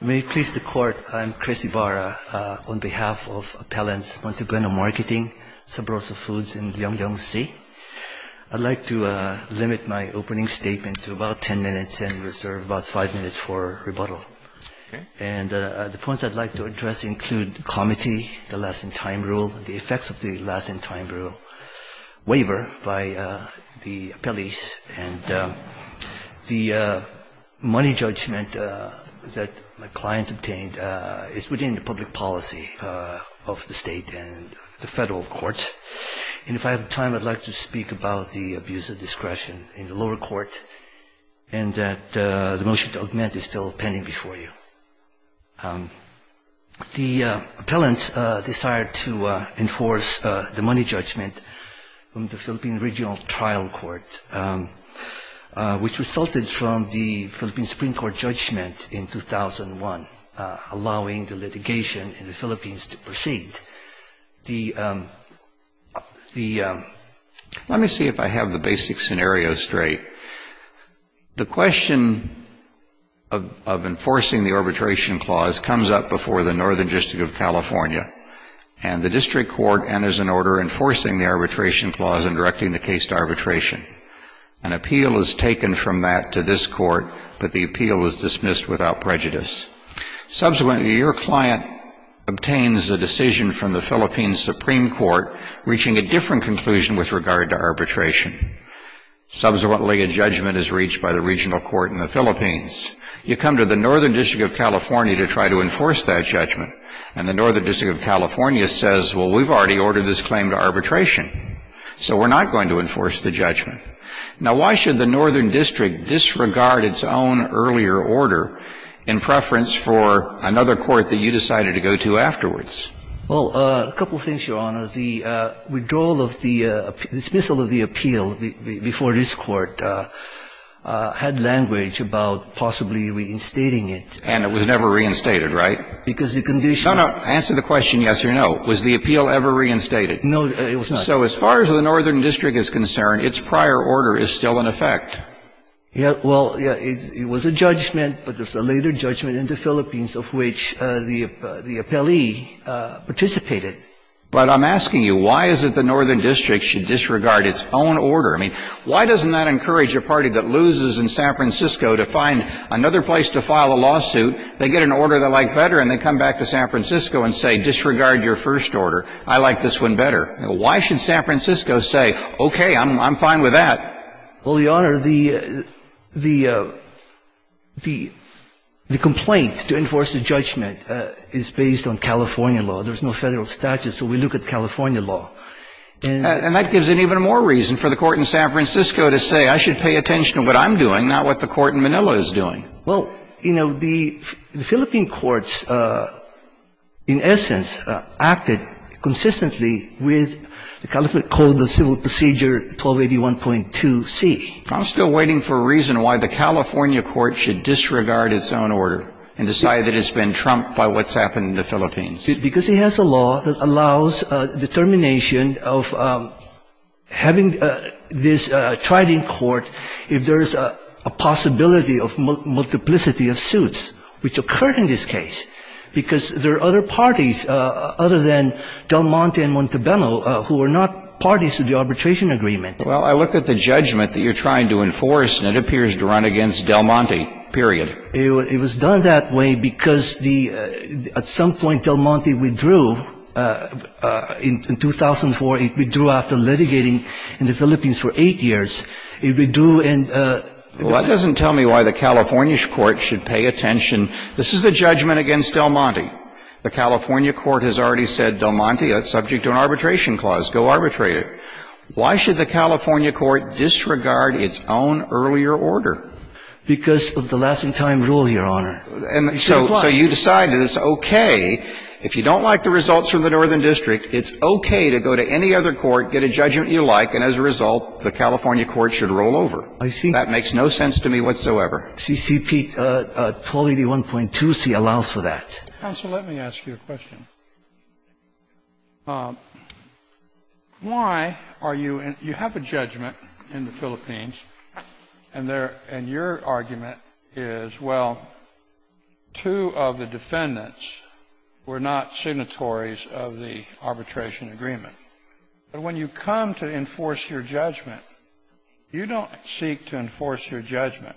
May it please the Court, I'm Chris Ibarra, on behalf of Appellants Montebueno Marketing, Sabroso Foods and Young Young C. I'd like to limit my opening statement to about 10 minutes and reserve about 5 minutes for rebuttal. And the points I'd like to address include comity, the last in time rule, the effects of the last in time rule, waiver by the appellees, and the money judgment that my clients obtained is within the public policy of the state and the federal courts. And if I have time, I'd like to speak about the abuse of discretion in the lower court and that the motion to augment is still pending before you. The appellants decided to enforce the money judgment from the Philippine Regional Trial Court, which resulted from the Philippine Supreme Court judgment in 2001, allowing the litigation in the Philippines to proceed. Let me see if I have the basic scenario straight. The question of enforcing the arbitration clause comes up before the Northern District of California. And the district court enters an order enforcing the arbitration clause and directing the case to arbitration. An appeal is taken from that to this court, but the appeal is dismissed without prejudice. Subsequently, your client obtains a decision from the Philippine Supreme Court, reaching a different conclusion with regard to arbitration. Subsequently, a judgment is reached by the regional court in the Philippines. You come to the Northern District of California to try to enforce that judgment. And the Northern District of California says, well, we've already ordered this claim to arbitration, so we're not going to enforce the judgment. Now, why should the Northern District disregard its own earlier order in preference for another court that you decided to go to afterwards? Well, a couple of things, Your Honor. The withdrawal of the dismissal of the appeal before this Court had language about possibly reinstating it. And it was never reinstated, right? Because the conditions. No, no. Answer the question yes or no. Was the appeal ever reinstated? No, it was not. So as far as the Northern District is concerned, its prior order is still in effect. Well, it was a judgment, but there's a later judgment in the Philippines of which the appellee participated. But I'm asking you, why is it the Northern District should disregard its own order? I mean, why doesn't that encourage a party that loses in San Francisco to find another place to file a lawsuit, they get an order they like better, and they come back to San Francisco and say, disregard your first order. I like this one better. Why should San Francisco say, okay, I'm fine with that? Well, Your Honor, the complaint to enforce the judgment is based on California law. There's no Federal statute, so we look at California law. And that gives it even more reason for the court in San Francisco to say, I should pay attention to what I'm doing, not what the court in Manila is doing. Well, you know, the Philippine courts, in essence, acted consistently with the California Code of Civil Procedure 1281.2c. I'm still waiting for a reason why the California court should disregard its own order and decide that it's been trumped by what's happened in the Philippines. Because it has a law that allows determination of having this tried in court if there was a possibility of multiplicity of suits, which occurred in this case. Because there are other parties other than Del Monte and Montalbano who are not parties to the arbitration agreement. Well, I look at the judgment that you're trying to enforce, and it appears to run against Del Monte, period. It was done that way because the at some point Del Monte withdrew in 2004. It withdrew after litigating in the Philippines for eight years. Well, that doesn't tell me why the California court should pay attention. This is the judgment against Del Monte. The California court has already said, Del Monte, that's subject to an arbitration clause, go arbitrate it. Why should the California court disregard its own earlier order? Because of the lasting time rule, Your Honor. And so you decide that it's okay, if you don't like the results from the northern district, it's okay to go to any other court, get a judgment you like, and as a result, the California court should roll over. I see. That makes no sense to me whatsoever. CCP 1281.2C allows for that. Counsel, let me ask you a question. Why are you in you have a judgment in the Philippines, and your argument is, well, two of the defendants were not signatories of the arbitration agreement. But when you come to enforce your judgment, you don't seek to enforce your judgment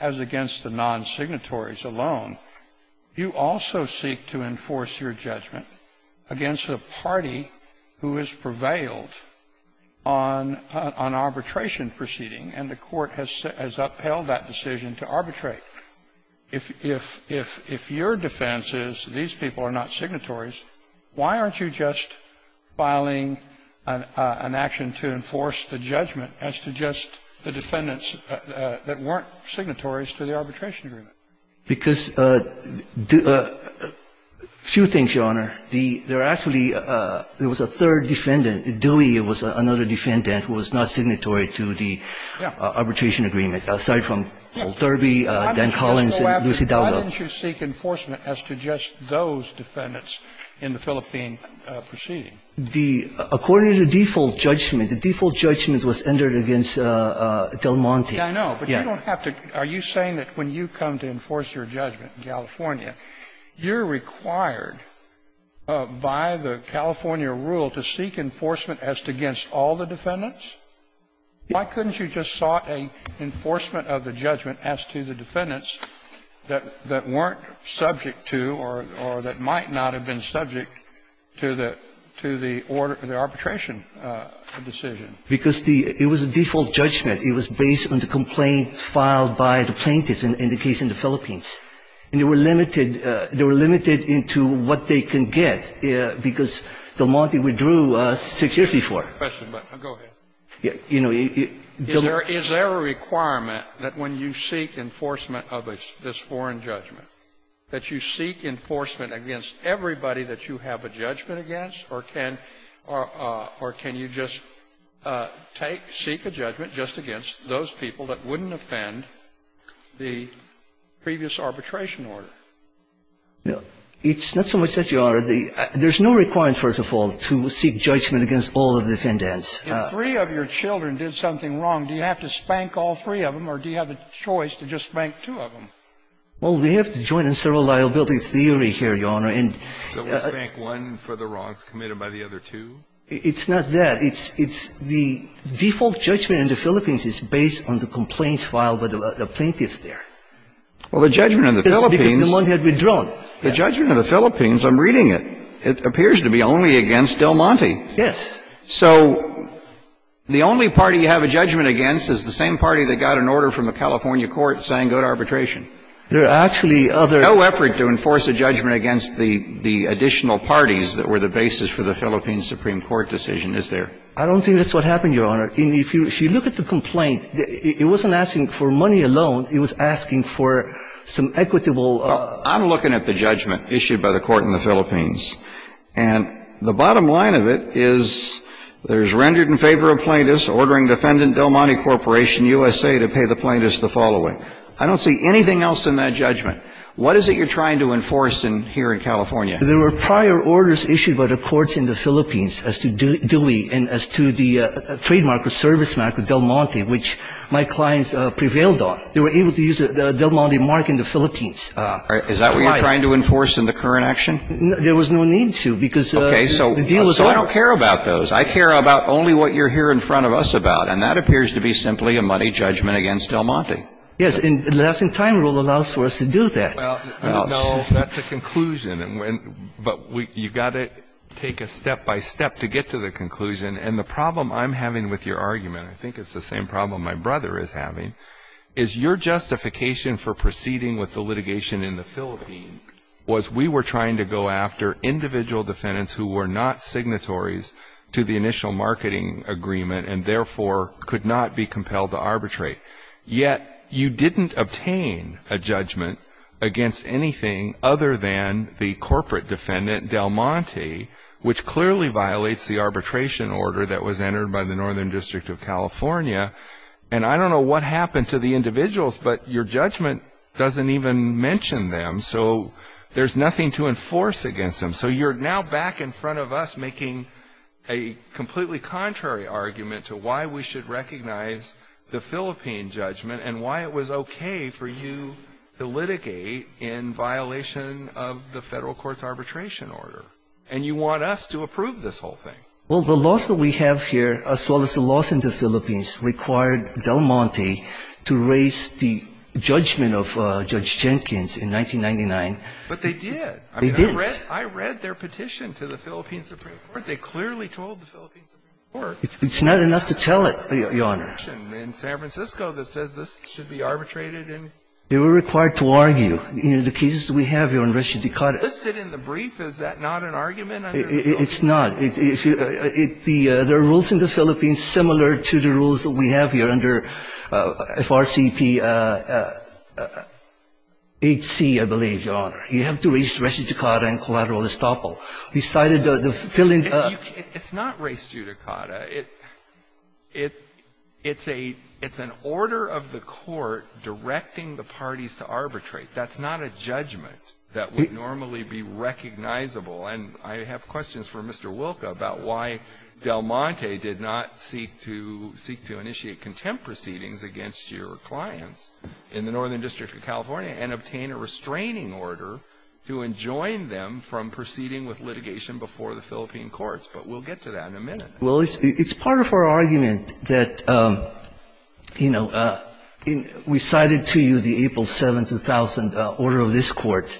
as against the non-signatories alone. You also seek to enforce your judgment against a party who has prevailed on arbitration proceeding, and the court has upheld that decision to arbitrate. If your defense is these people are not signatories, why aren't you just filing an action to enforce the judgment as to just the defendants that weren't signatories to the arbitration agreement? Because a few things, Your Honor. There actually was a third defendant. Dewey was another defendant who was not signatory to the arbitration agreement. I'm sorry, from Old Derby, Dan Collins, and Lucy Dowdell. Why didn't you seek enforcement as to just those defendants in the Philippine proceeding? According to the default judgment, the default judgment was entered against Del Monte. Yeah, I know. But you don't have to. Are you saying that when you come to enforce your judgment in California, you're required by the California rule to seek enforcement as against all the defendants? Why couldn't you just sought an enforcement of the judgment as to the defendants that weren't subject to or that might not have been subject to the arbitration decision? Because it was a default judgment. It was based on the complaint filed by the plaintiffs in the case in the Philippines. And they were limited into what they can get, because Del Monte withdrew six years before. I don't have a question, but go ahead. Is there a requirement that when you seek enforcement of this foreign judgment that you seek enforcement against everybody that you have a judgment against? Or can you just seek a judgment just against those people that wouldn't offend the previous arbitration order? It's not so much that you are. There's no requirement, first of all, to seek judgment against all the defendants. If three of your children did something wrong, do you have to spank all three of them or do you have a choice to just spank two of them? Well, we have the joint and several liability theory here, Your Honor. So we spank one for the wrongs committed by the other two? It's not that. It's the default judgment in the Philippines is based on the complaints filed by the plaintiffs there. Well, the judgment in the Philippines. Because Del Monte had withdrawn. The judgment in the Philippines, I'm reading it. It appears to be only against Del Monte. Yes. So the only party you have a judgment against is the same party that got an order from the California court saying go to arbitration. There are actually other. No effort to enforce a judgment against the additional parties that were the basis for the Philippines Supreme Court decision, is there? I don't think that's what happened, Your Honor. If you look at the complaint, it wasn't asking for money alone. It was asking for some equitable. Well, I'm looking at the judgment issued by the court in the Philippines. And the bottom line of it is there's rendered in favor of plaintiffs ordering defendant Del Monte Corporation USA to pay the plaintiffs the following. I don't see anything else in that judgment. What is it you're trying to enforce here in California? There were prior orders issued by the courts in the Philippines as to Dewey and as to the trademark or service mark of Del Monte, which my clients prevailed on. They were able to use the Del Monte mark in the Philippines. Is that what you're trying to enforce in the current action? There was no need to because the deal was over. Okay. So I don't care about those. I care about only what you're here in front of us about. And that appears to be simply a money judgment against Del Monte. Yes. And the lasting time rule allows for us to do that. No, that's a conclusion. But you've got to take it step by step to get to the conclusion. And the problem I'm having with your argument, I think it's the same problem my brother is having, is your justification for proceeding with the litigation in the Philippines was we were trying to go after individual defendants who were not signatories to the initial marketing agreement and, therefore, could not be compelled to arbitrate. Yet you didn't obtain a judgment against anything other than the corporate defendant, Del Monte, which clearly violates the arbitration order that was entered by the Northern I don't know what happened to the individuals, but your judgment doesn't even mention them. So there's nothing to enforce against them. So you're now back in front of us making a completely contrary argument to why we should recognize the Philippine judgment and why it was okay for you to litigate in violation of the federal court's arbitration order. And you want us to approve this whole thing. Well, the lawsuit we have here, as well as the lawsuit in the Philippines, required Del Monte to raise the judgment of Judge Jenkins in 1999. But they did. They did. I mean, I read their petition to the Philippine Supreme Court. They clearly told the Philippine Supreme Court. It's not enough to tell it, Your Honor. There's a petition in San Francisco that says this should be arbitrated. They were required to argue. In the cases we have here in Reschia di Carte. Is it listed in the brief? Is that not an argument? It's not. There are rules in the Philippines similar to the rules that we have here under FRCPHC, I believe, Your Honor. You have to raise Reschia di Carte and collateral estoppel. He cited the Philippine ---- It's not Reschia di Carte. It's an order of the court directing the parties to arbitrate. That's not a judgment that would normally be recognizable. And I have questions for Mr. Wilka about why Del Monte did not seek to initiate contempt proceedings against your clients in the Northern District of California and obtain a restraining order to enjoin them from proceeding with litigation before the Philippine courts. But we'll get to that in a minute. Well, it's part of our argument that, you know, we cited to you the April 7, 2000 order of this Court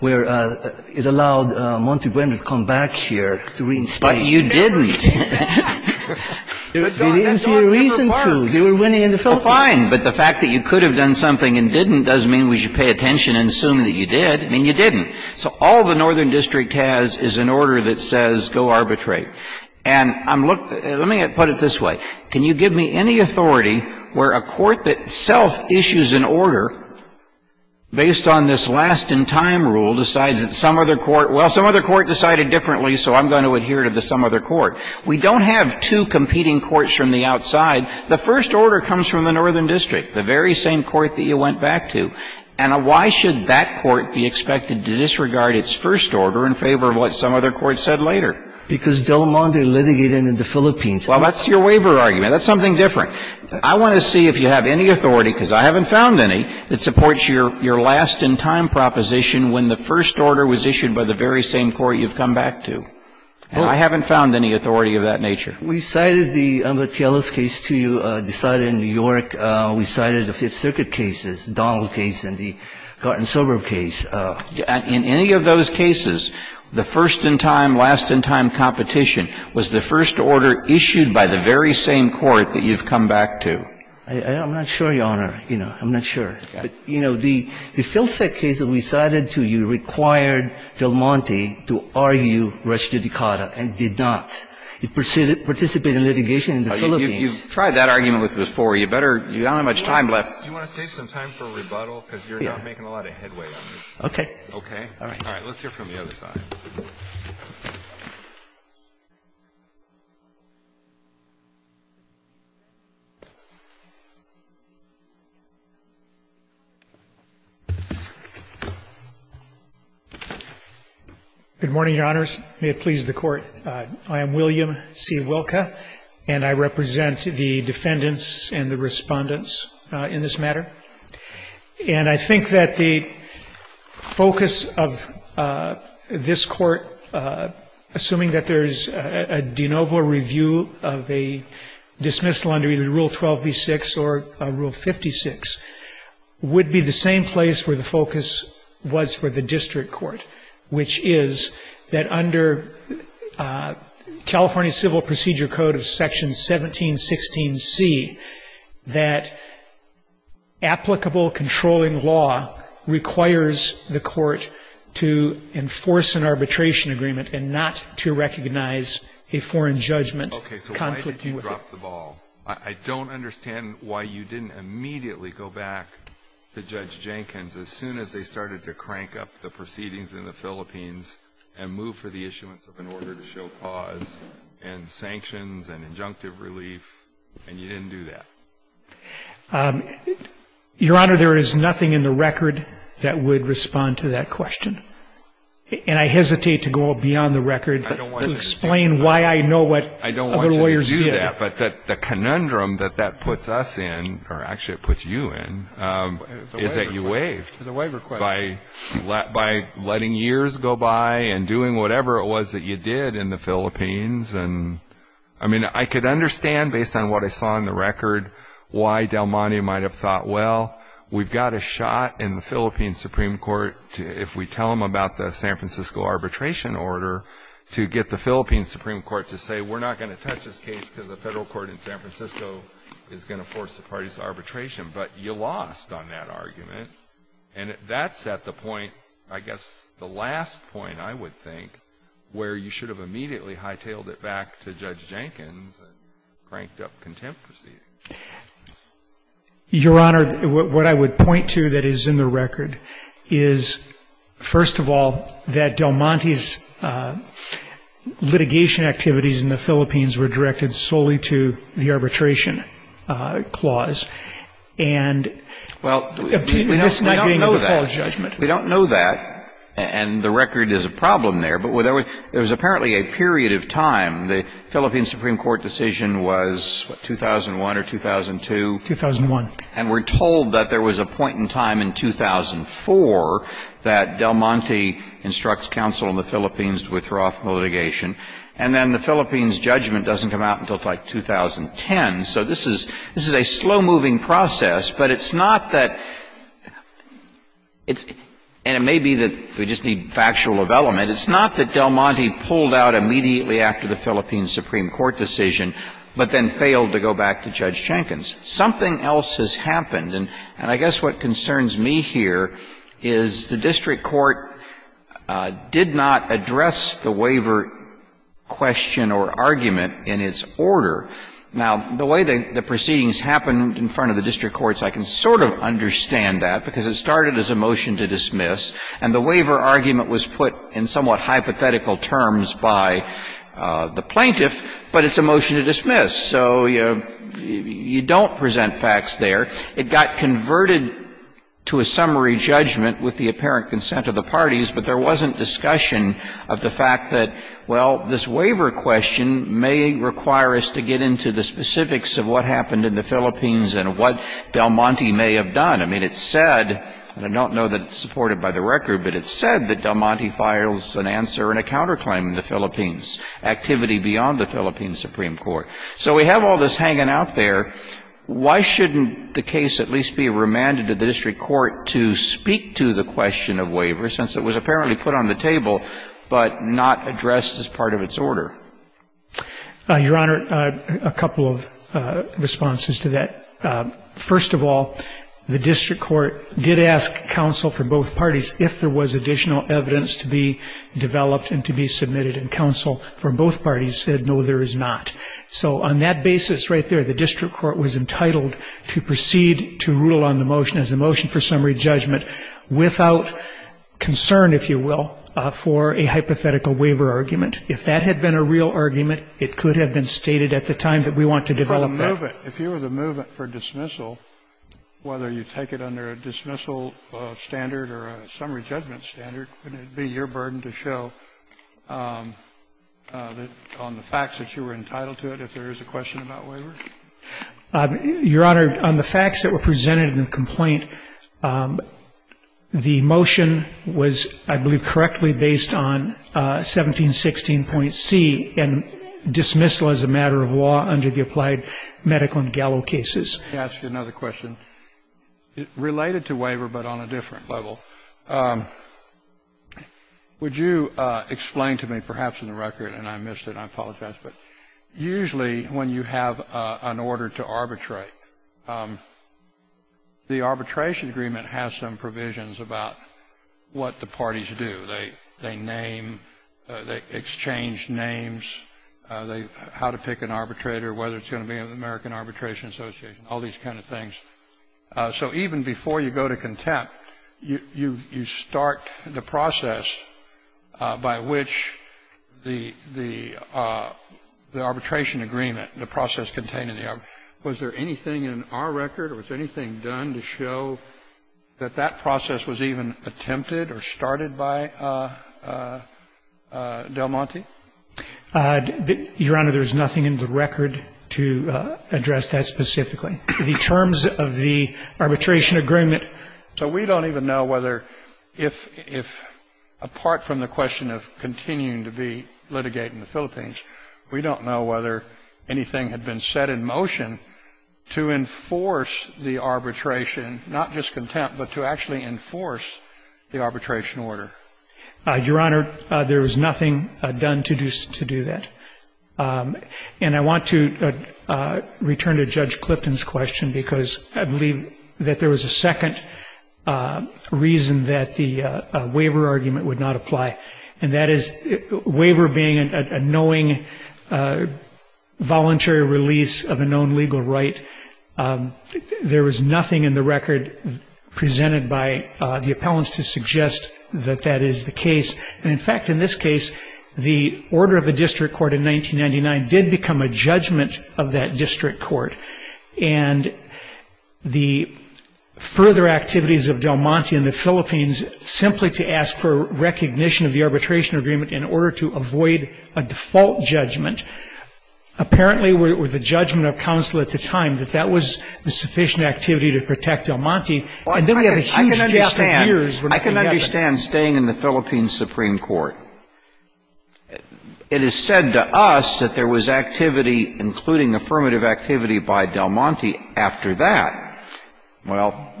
where it allowed Monte Gwendolyn to come back here to reinstate him. But you didn't. They didn't see a reason to. They were winning in the Philippines. Well, fine, but the fact that you could have done something and didn't doesn't mean we should pay attention and assume that you did. I mean, you didn't. So all the Northern District has is an order that says go arbitrate. And I'm looking at ---- let me put it this way. Can you give me any authority where a court that self-issues an order based on this last-in-time rule decides that some other court ---- well, some other court decided differently, so I'm going to adhere to the some other court. We don't have two competing courts from the outside. The first order comes from the Northern District, the very same court that you went back to. And why should that court be expected to disregard its first order in favor of what Because Del Monte litigated in the Philippines. Well, that's your waiver argument. That's something different. I want to see if you have any authority, because I haven't found any, that supports your last-in-time proposition when the first order was issued by the very same court you've come back to. I haven't found any authority of that nature. We cited the TLS case to you decided in New York. We cited the Fifth Circuit cases, the Donald case and the Garten-Silber case. In any of those cases, the first-in-time, last-in-time competition was the first order issued by the very same court that you've come back to. I'm not sure, Your Honor. You know, I'm not sure. But, you know, the Filsac case that we cited to you required Del Monte to argue res judicata and did not. It participated in litigation in the Philippines. You've tried that argument with us before. You better – you don't have much time left. Do you want to save some time for rebuttal, because you're not making a lot of headway on this? Okay. Okay? All right. Let's hear from the other side. William C. Wilka, Jr. Good morning, Your Honors. May it please the Court. I am William C. Wilka, and I represent the defendants and the respondents in this matter. And I think that the focus of this Court, assuming that there's a de novo review of a dismissal under either Rule 12b-6 or Rule 56, would be the same place where the focus was for the district court, which is that under California Civil Procedure Code of Section 1716C, that applicable controlling law requires the court to enforce an arbitration agreement and not to recognize a foreign judgment. Okay. So why did you drop the ball? I don't understand why you didn't immediately go back to Judge Jenkins as soon as they started to crank up the proceedings in the Philippines and move for the issuance of an order to show cause and sanctions and injunctive relief, and you didn't do that? Your Honor, there is nothing in the record that would respond to that question. And I hesitate to go beyond the record to explain why I know what other lawyers did. I don't want you to do that. But the conundrum that that puts us in, or actually it puts you in, is that you waived. The waiver question. By letting years go by and doing whatever it was that you did in the Philippines. And, I mean, I could understand, based on what I saw in the record, why Del Monte might have thought, well, we've got a shot in the Philippine Supreme Court if we tell them about the San Francisco arbitration order to get the Philippine Supreme Court to say we're not going to touch this case because the federal court in San Francisco is going to force the parties to arbitration. But you lost on that argument. And that's at the point, I guess the last point, I would think, where you should have immediately hightailed it back to Judge Jenkins and cranked up contempt proceedings. Your Honor, what I would point to that is in the record is, first of all, that Del Monte's litigation activities in the Philippines were directed solely to the arbitration clause. And obtaining this not being a false judgment. Well, we don't know that. And the record is a problem there. But there was apparently a period of time. The Philippine Supreme Court decision was, what, 2001 or 2002? 2001. And we're told that there was a point in time in 2004 that Del Monte instructs counsel in the Philippines to withdraw from the litigation. And then the Philippines judgment doesn't come out until, like, 2010. So this is a slow-moving process. But it's not that it's – and it may be that we just need factual development. It's not that Del Monte pulled out immediately after the Philippine Supreme Court decision, but then failed to go back to Judge Jenkins. Something else has happened. And I guess what concerns me here is the district court did not address the waiver question or argument in its order. Now, the way the proceedings happened in front of the district courts, I can sort of understand that, because it started as a motion to dismiss. And the waiver argument was put in somewhat hypothetical terms by the plaintiff, but it's a motion to dismiss. So you don't present facts there. It got converted to a summary judgment with the apparent consent of the parties. But there wasn't discussion of the fact that, well, this waiver question may require us to get into the specifics of what happened in the Philippines and what Del Monte may have done. I mean, it's said, and I don't know that it's supported by the record, but it's said that Del Monte files an answer and a counterclaim in the Philippines, activity beyond the Philippine Supreme Court. So we have all this hanging out there. Why shouldn't the case at least be remanded to the district court to speak to the question of waiver, since it was apparently put on the table but not addressed as part of its order? Your Honor, a couple of responses to that. First of all, the district court did ask counsel for both parties if there was additional evidence to be developed and to be submitted. And counsel from both parties said, no, there is not. So on that basis right there, the district court was entitled to proceed to rule on the motion as a motion for summary judgment without concern, if you will, for a hypothetical waiver argument. If that had been a real argument, it could have been stated at the time that we want to develop that. Kennedy. If you were the movement for dismissal, whether you take it under a dismissal standard or a summary judgment standard, wouldn't it be your burden to show that on the facts that you were entitled to it if there is a question about waiver? Your Honor, on the facts that were presented in the complaint, the motion was, I believe, correctly based on 1716.C and dismissal as a matter of law under the applied medical and gallow cases. Let me ask you another question. Related to waiver but on a different level, would you explain to me, perhaps in the record, and I missed it, I apologize, but usually when you have an order to arbitrate, the arbitration agreement has some provisions about what the parties do. They name, they exchange names, how to pick an arbitrator, whether it's going to be an American Arbitration Association, all these kind of things. So even before you go to contempt, you start the process by which the arbitration agreement, the process contained in the arbitration agreement, was there anything in our record or was anything done to show that that process was even attempted or started by Del Monte? Your Honor, there is nothing in the record to address that specifically. The terms of the arbitration agreement, so we don't even know whether if, apart from the question of continuing to be litigating the Philippines, we don't know whether anything had been set in motion to enforce the arbitration, not just contempt, but to actually enforce the arbitration order. Your Honor, there was nothing done to do that. And I want to return to Judge Clifton's question because I believe that there was a second reason that the waiver argument would not apply, and that is waiver being a knowing voluntary release of a known legal right. There was nothing in the record presented by the appellants to suggest that that is the case. And, in fact, in this case, the order of the district court in 1999 did become a judgment of that in the Philippines simply to ask for recognition of the arbitration agreement in order to avoid a default judgment. Apparently, with the judgment of counsel at the time, that that was the sufficient activity to protect Del Monte. And then we have a huge case of years where nothing happened. I can understand staying in the Philippines Supreme Court. It is said to us that there was activity, including affirmative activity, by Del Monte after that. Well,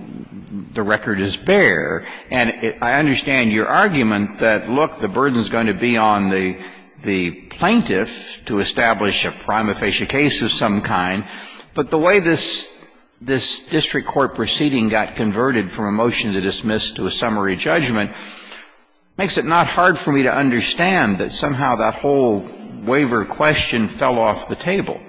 the record is bare, and I understand your argument that, look, the burden is going to be on the plaintiff to establish a prima facie case of some kind. But the way this district court proceeding got converted from a motion to dismiss to a summary judgment makes it not hard for me to understand that somehow that whole waiver question fell off the table.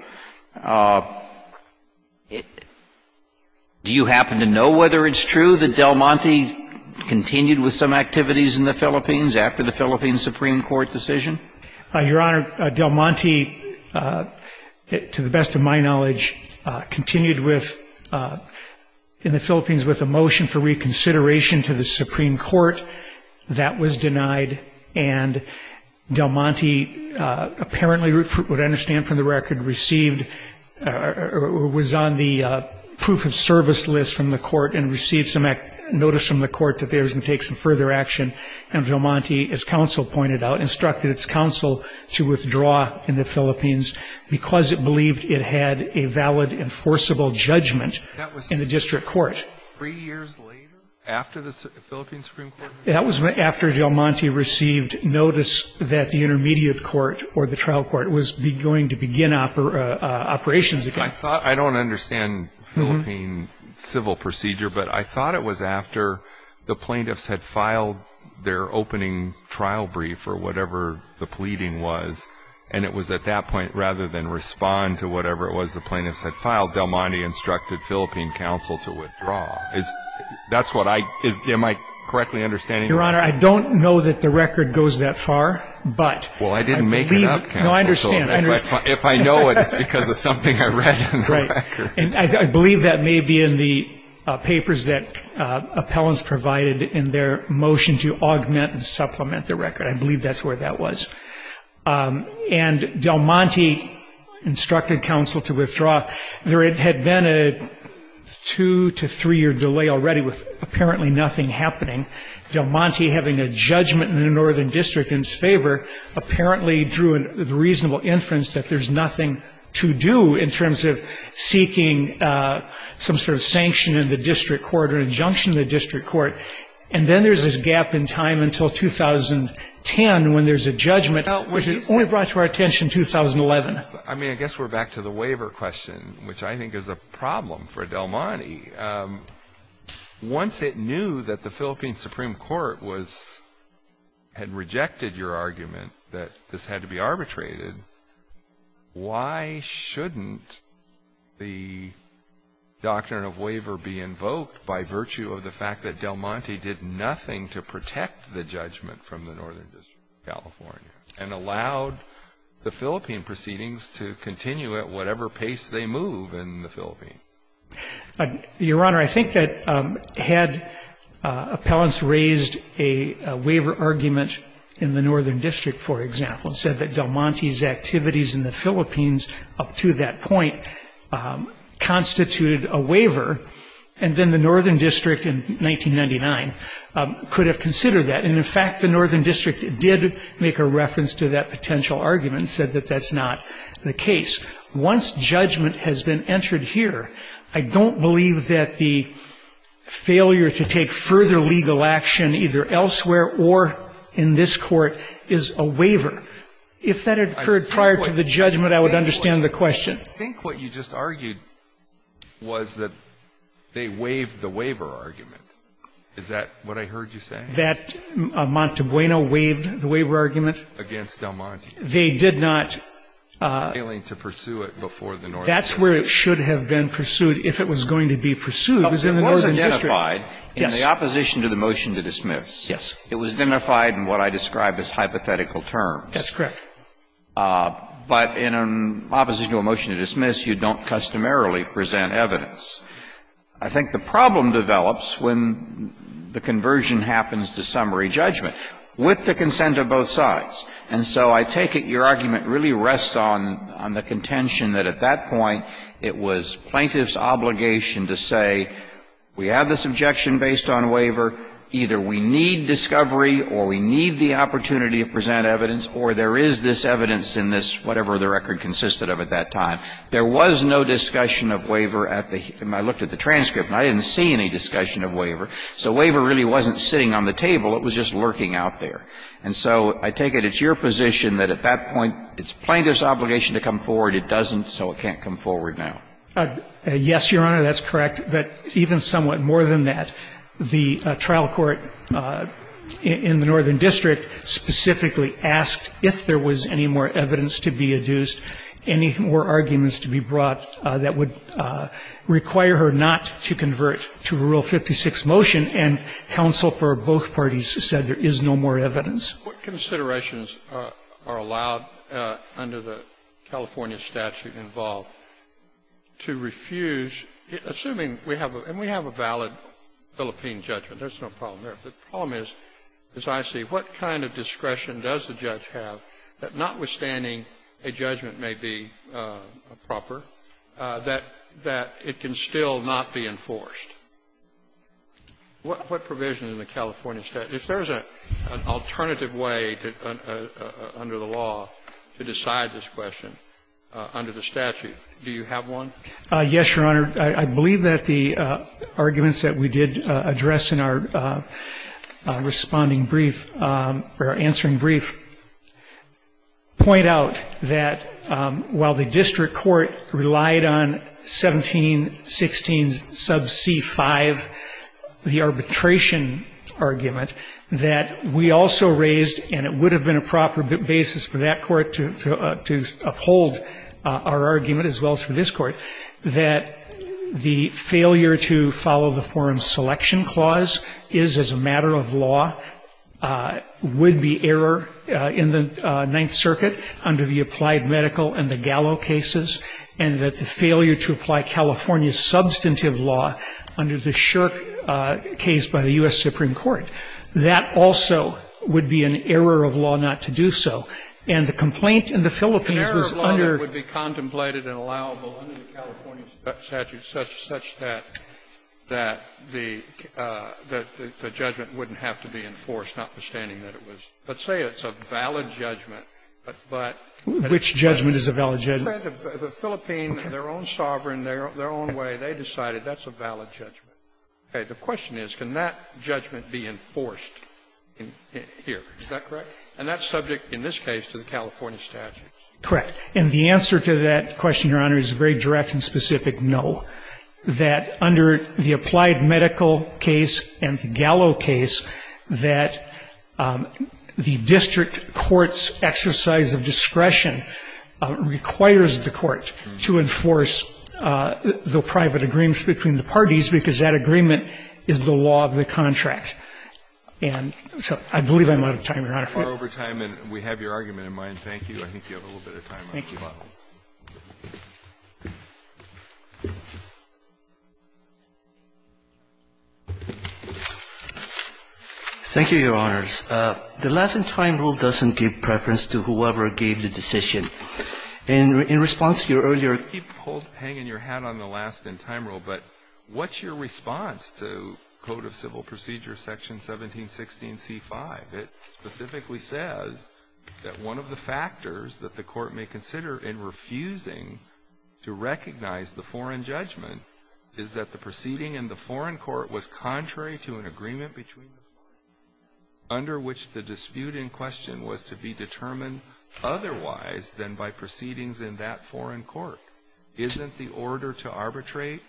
Do you happen to know whether it's true that Del Monte continued with some activities in the Philippines after the Philippines Supreme Court decision? Your Honor, Del Monte, to the best of my knowledge, continued with, in the Philippines with a motion for reconsideration to the Supreme Court. That was denied. And Del Monte apparently, what I understand from the record, received or was on the proof of service list from the court and received some notice from the court that they were going to take some further action. And Del Monte, as counsel pointed out, instructed its counsel to withdraw in the Philippines because it believed it had a valid enforceable judgment in the district court. Three years later, after the Philippines Supreme Court? That was after Del Monte received notice that the intermediate court or the trial court was going to begin operations again. I don't understand Philippine civil procedure, but I thought it was after the plaintiffs had filed their opening trial brief or whatever the pleading was, and it was at that point, rather than respond to whatever it was the plaintiffs had filed, Del Monte instructed Philippine counsel to withdraw. That's what I, am I correctly understanding? Your Honor, I don't know that the record goes that far, but. Well, I didn't make it up, counsel. No, I understand. If I know it, it's because of something I read in the record. Right. And I believe that may be in the papers that appellants provided in their motion to augment and supplement the record. I believe that's where that was. And Del Monte instructed counsel to withdraw. There had been a two to three-year delay already with apparently nothing happening. Del Monte, having a judgment in the northern district in his favor, apparently drew a reasonable inference that there's nothing to do in terms of seeking some sort of sanction in the district court or injunction in the district court. And then there's this gap in time until 2010 when there's a judgment, which only brought to our attention in 2011. I mean, I guess we're back to the waiver question, which I think is a problem for Del Monte. Once it knew that the Philippine Supreme Court was, had rejected your argument that this had to be arbitrated, why shouldn't the doctrine of waiver be invoked by virtue of the fact that Del Monte did nothing to protect the judgment from the northern district of California and allowed the Philippine proceedings to continue at whatever pace they move in the Philippines? Your Honor, I think that had appellants raised a waiver argument in the northern district, for example, and said that Del Monte's activities in the Philippines up to that point constituted a waiver. And then the northern district in 1999 could have considered that. And, in fact, the northern district did make a reference to that potential argument and said that that's not the case. Once judgment has been entered here, I don't believe that the failure to take further action in the northern district of California should be considered a waiver. If that had occurred prior to the judgment, I would understand the question. I think what you just argued was that they waived the waiver argument. Is that what I heard you saying? That Montebueno waived the waiver argument? Against Del Monte. Failing to pursue it before the northern district. That's where it should have been pursued. If it was going to be pursued, it was in the northern district. It was identified in the opposition to the motion to dismiss. Yes. It was identified in what I described as hypothetical terms. That's correct. But in an opposition to a motion to dismiss, you don't customarily present evidence. I think the problem develops when the conversion happens to summary judgment with the consent of both sides. And so I take it your argument really rests on the contention that at that point it was plaintiff's obligation to say, we have this objection based on waiver, either we need discovery or we need the opportunity to present evidence, or there is this evidence in this whatever the record consisted of at that time. There was no discussion of waiver at the heat. I looked at the transcript and I didn't see any discussion of waiver. So waiver really wasn't sitting on the table. It was just lurking out there. And so I take it it's your position that at that point it's plaintiff's obligation to come forward, it doesn't, so it can't come forward now. Yes, Your Honor, that's correct. But even somewhat more than that, the trial court in the northern district specifically asked if there was any more evidence to be adduced, any more arguments to be brought that would require her not to convert to Rule 56 motion, and counsel for both parties said there is no more evidence. What considerations are allowed under the California statute involved to refuse assuming we have a valid Philippine judgment, there's no problem there. The problem is, as I see, what kind of discretion does the judge have that notwithstanding a judgment may be proper, that it can still not be enforced? What provision in the California statute, if there's an alternative way under the law to decide this question under the statute, do you have one? Yes, Your Honor. I believe that the arguments that we did address in our responding brief, or answering C-5, the arbitration argument, that we also raised, and it would have been a proper basis for that court to uphold our argument, as well as for this court, that the failure to follow the forum selection clause is, as a matter of law, would be error in the Ninth Circuit under the applied medical and the Gallo cases, and that the failure to apply California's substantive law under the Shirk case by the U.S. Supreme Court. That also would be an error of law not to do so. And the complaint in the Philippines was under the California statute, such that the judgment wouldn't have to be enforced, notwithstanding that it was, let's say it's a valid judgment, but which judgment is a valid judgment? The Philippines, in their own sovereign, their own way, they decided that's a valid judgment. Okay. The question is, can that judgment be enforced here? Is that correct? And that's subject, in this case, to the California statute. Correct. And the answer to that question, Your Honor, is a very direction-specific no, that under the applied medical case and the Gallo case, that the district court's exercise of discretion requires the court to enforce the private agreements between the parties, because that agreement is the law of the contract. And so I believe I'm out of time, Your Honor. We're far over time, and we have your argument in mind. Thank you. I think you have a little bit of time left. Thank you. Thank you, Your Honors. The last-in-time rule doesn't give preference to whoever gave the decision. In response to your earlier question, I think you can keep hanging your hat on the last-in-time rule, but what's your response to Code of Civil Procedures, Section 1716c5? It specifically says that one of the factors that the Court may consider in refusing to recognize the foreign judgment is that the proceeding in the foreign court was under which the dispute in question was to be determined otherwise than by proceedings in that foreign court. Isn't the order to arbitrate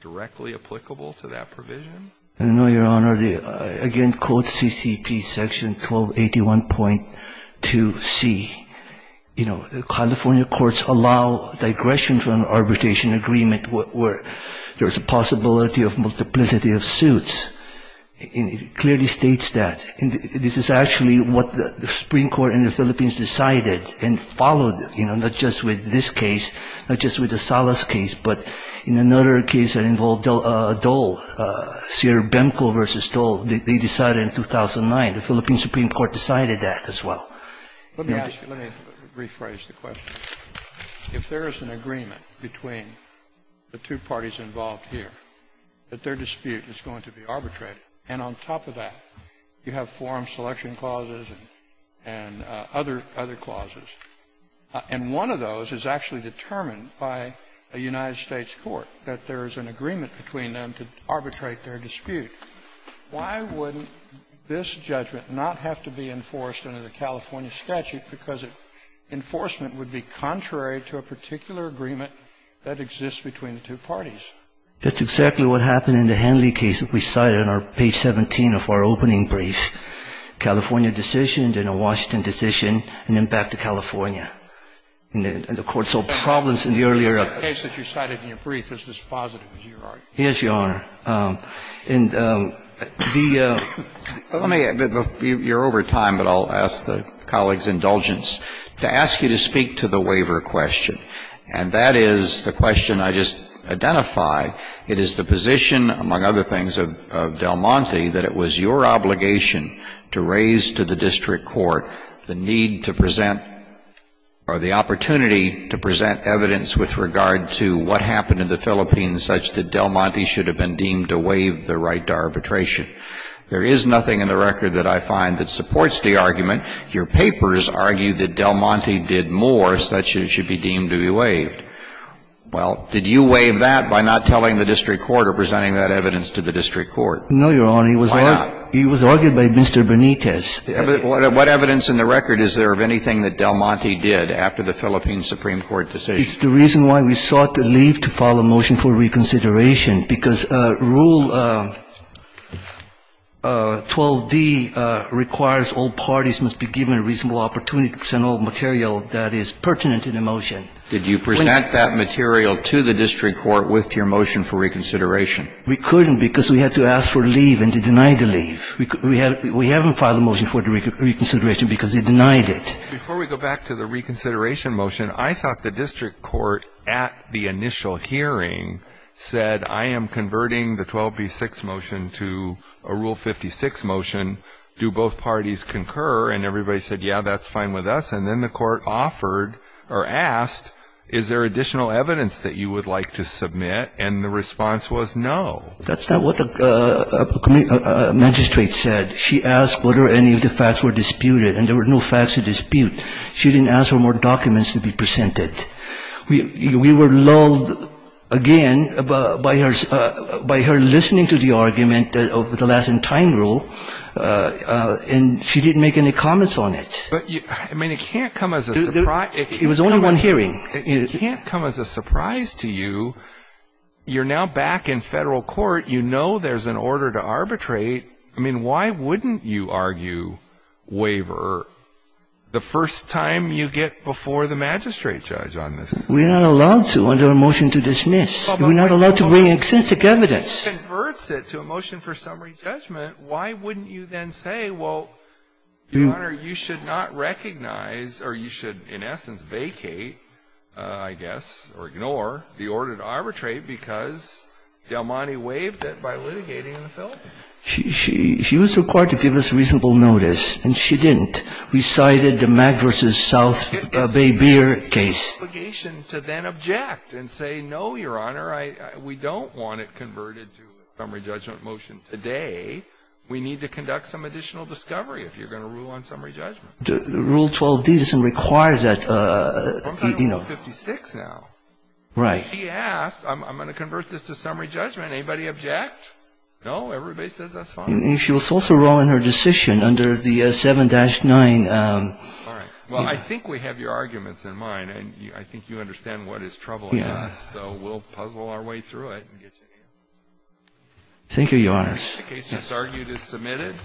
directly applicable to that provision? No, Your Honor. Again, Code CCP, Section 1281.2c, you know, California courts allow digression from arbitration agreement where there's a possibility of multiplicity of suits. And it clearly states that. And this is actually what the Supreme Court in the Philippines decided and followed, you know, not just with this case, not just with the Salas case, but in another case that involved Dole, Cyr Bemko v. Dole, they decided in 2009, the Philippine Supreme Court decided that as well. Let me ask you, let me rephrase the question. If there is an agreement between the two parties involved here, that their dispute is going to be arbitrated, and on top of that, you have forum selection clauses and other clauses, and one of those is actually determined by a United States court, that there is an agreement between them to arbitrate their dispute, why wouldn't this judgment not have to be enforced under the California statute because enforcement would be contrary to a particular agreement that exists between the two parties? That's exactly what happened in the Henley case that we cited on page 17 of our opening brief, California decision, then a Washington decision, and then back to California. And the Court saw problems in the earlier of it. The case that you cited in your brief is dispositive, is your argument? Yes, Your Honor. And the ---- Let me ---- you're over time, but I'll ask the colleague's indulgence to ask you to speak to the waiver question. And that is the question I just identify. It is the position, among other things, of Del Monte that it was your obligation to raise to the district court the need to present or the opportunity to present evidence with regard to what happened in the Philippines such that Del Monte should have been deemed to waive the right to arbitration. There is nothing in the record that I find that supports the argument. Your papers argue that Del Monte did more such that it should be deemed to be waived. Well, did you waive that by not telling the district court or presenting that evidence to the district court? No, Your Honor. Why not? It was argued by Mr. Benitez. What evidence in the record is there of anything that Del Monte did after the Philippine Supreme Court decision? It's the reason why we sought to leave to file a motion for reconsideration. Because Rule 12d requires all parties must be given reasonable opportunity to present all material that is pertinent in the motion. Did you present that material to the district court with your motion for reconsideration? We couldn't because we had to ask for leave, and they denied the leave. We haven't filed a motion for reconsideration because they denied it. Before we go back to the reconsideration motion, I thought the district court at the time, converting the 12b-6 motion to a Rule 56 motion, do both parties concur? And everybody said, yeah, that's fine with us. And then the court offered or asked, is there additional evidence that you would like to submit? And the response was no. That's not what the magistrate said. She asked whether any of the facts were disputed, and there were no facts to dispute. She didn't ask for more documents to be presented. We were lulled again by her listening to the argument of the last-in-time rule, and she didn't make any comments on it. But, I mean, it can't come as a surprise to you, you're now back in Federal court, you know there's an order to arbitrate, I mean, why wouldn't you argue waiver the first time you get before the magistrate judge? We're not allowed to under a motion to dismiss. We're not allowed to bring in extensive evidence. If she converts it to a motion for summary judgment, why wouldn't you then say, well, Your Honor, you should not recognize, or you should, in essence, vacate, I guess, or ignore the order to arbitrate because Del Monte waived it by litigating in the Philippines? She was required to give us reasonable notice, and she didn't. We cited the Magvers' South Bay Beer case. It's an obligation to then object and say, no, Your Honor, we don't want it converted to a summary judgment motion today. We need to conduct some additional discovery if you're going to rule on summary judgment. Rule 12D doesn't require that, you know. I'm talking about 56 now. Right. If she asks, I'm going to convert this to summary judgment, anybody object? No? Everybody says that's fine. She was also wrong in her decision under the 7-9. All right. Well, I think we have your arguments in mind, and I think you understand what is troubling us. Yeah. So we'll puzzle our way through it and get to you. Thank you, Your Honors. The case that's argued is submitted.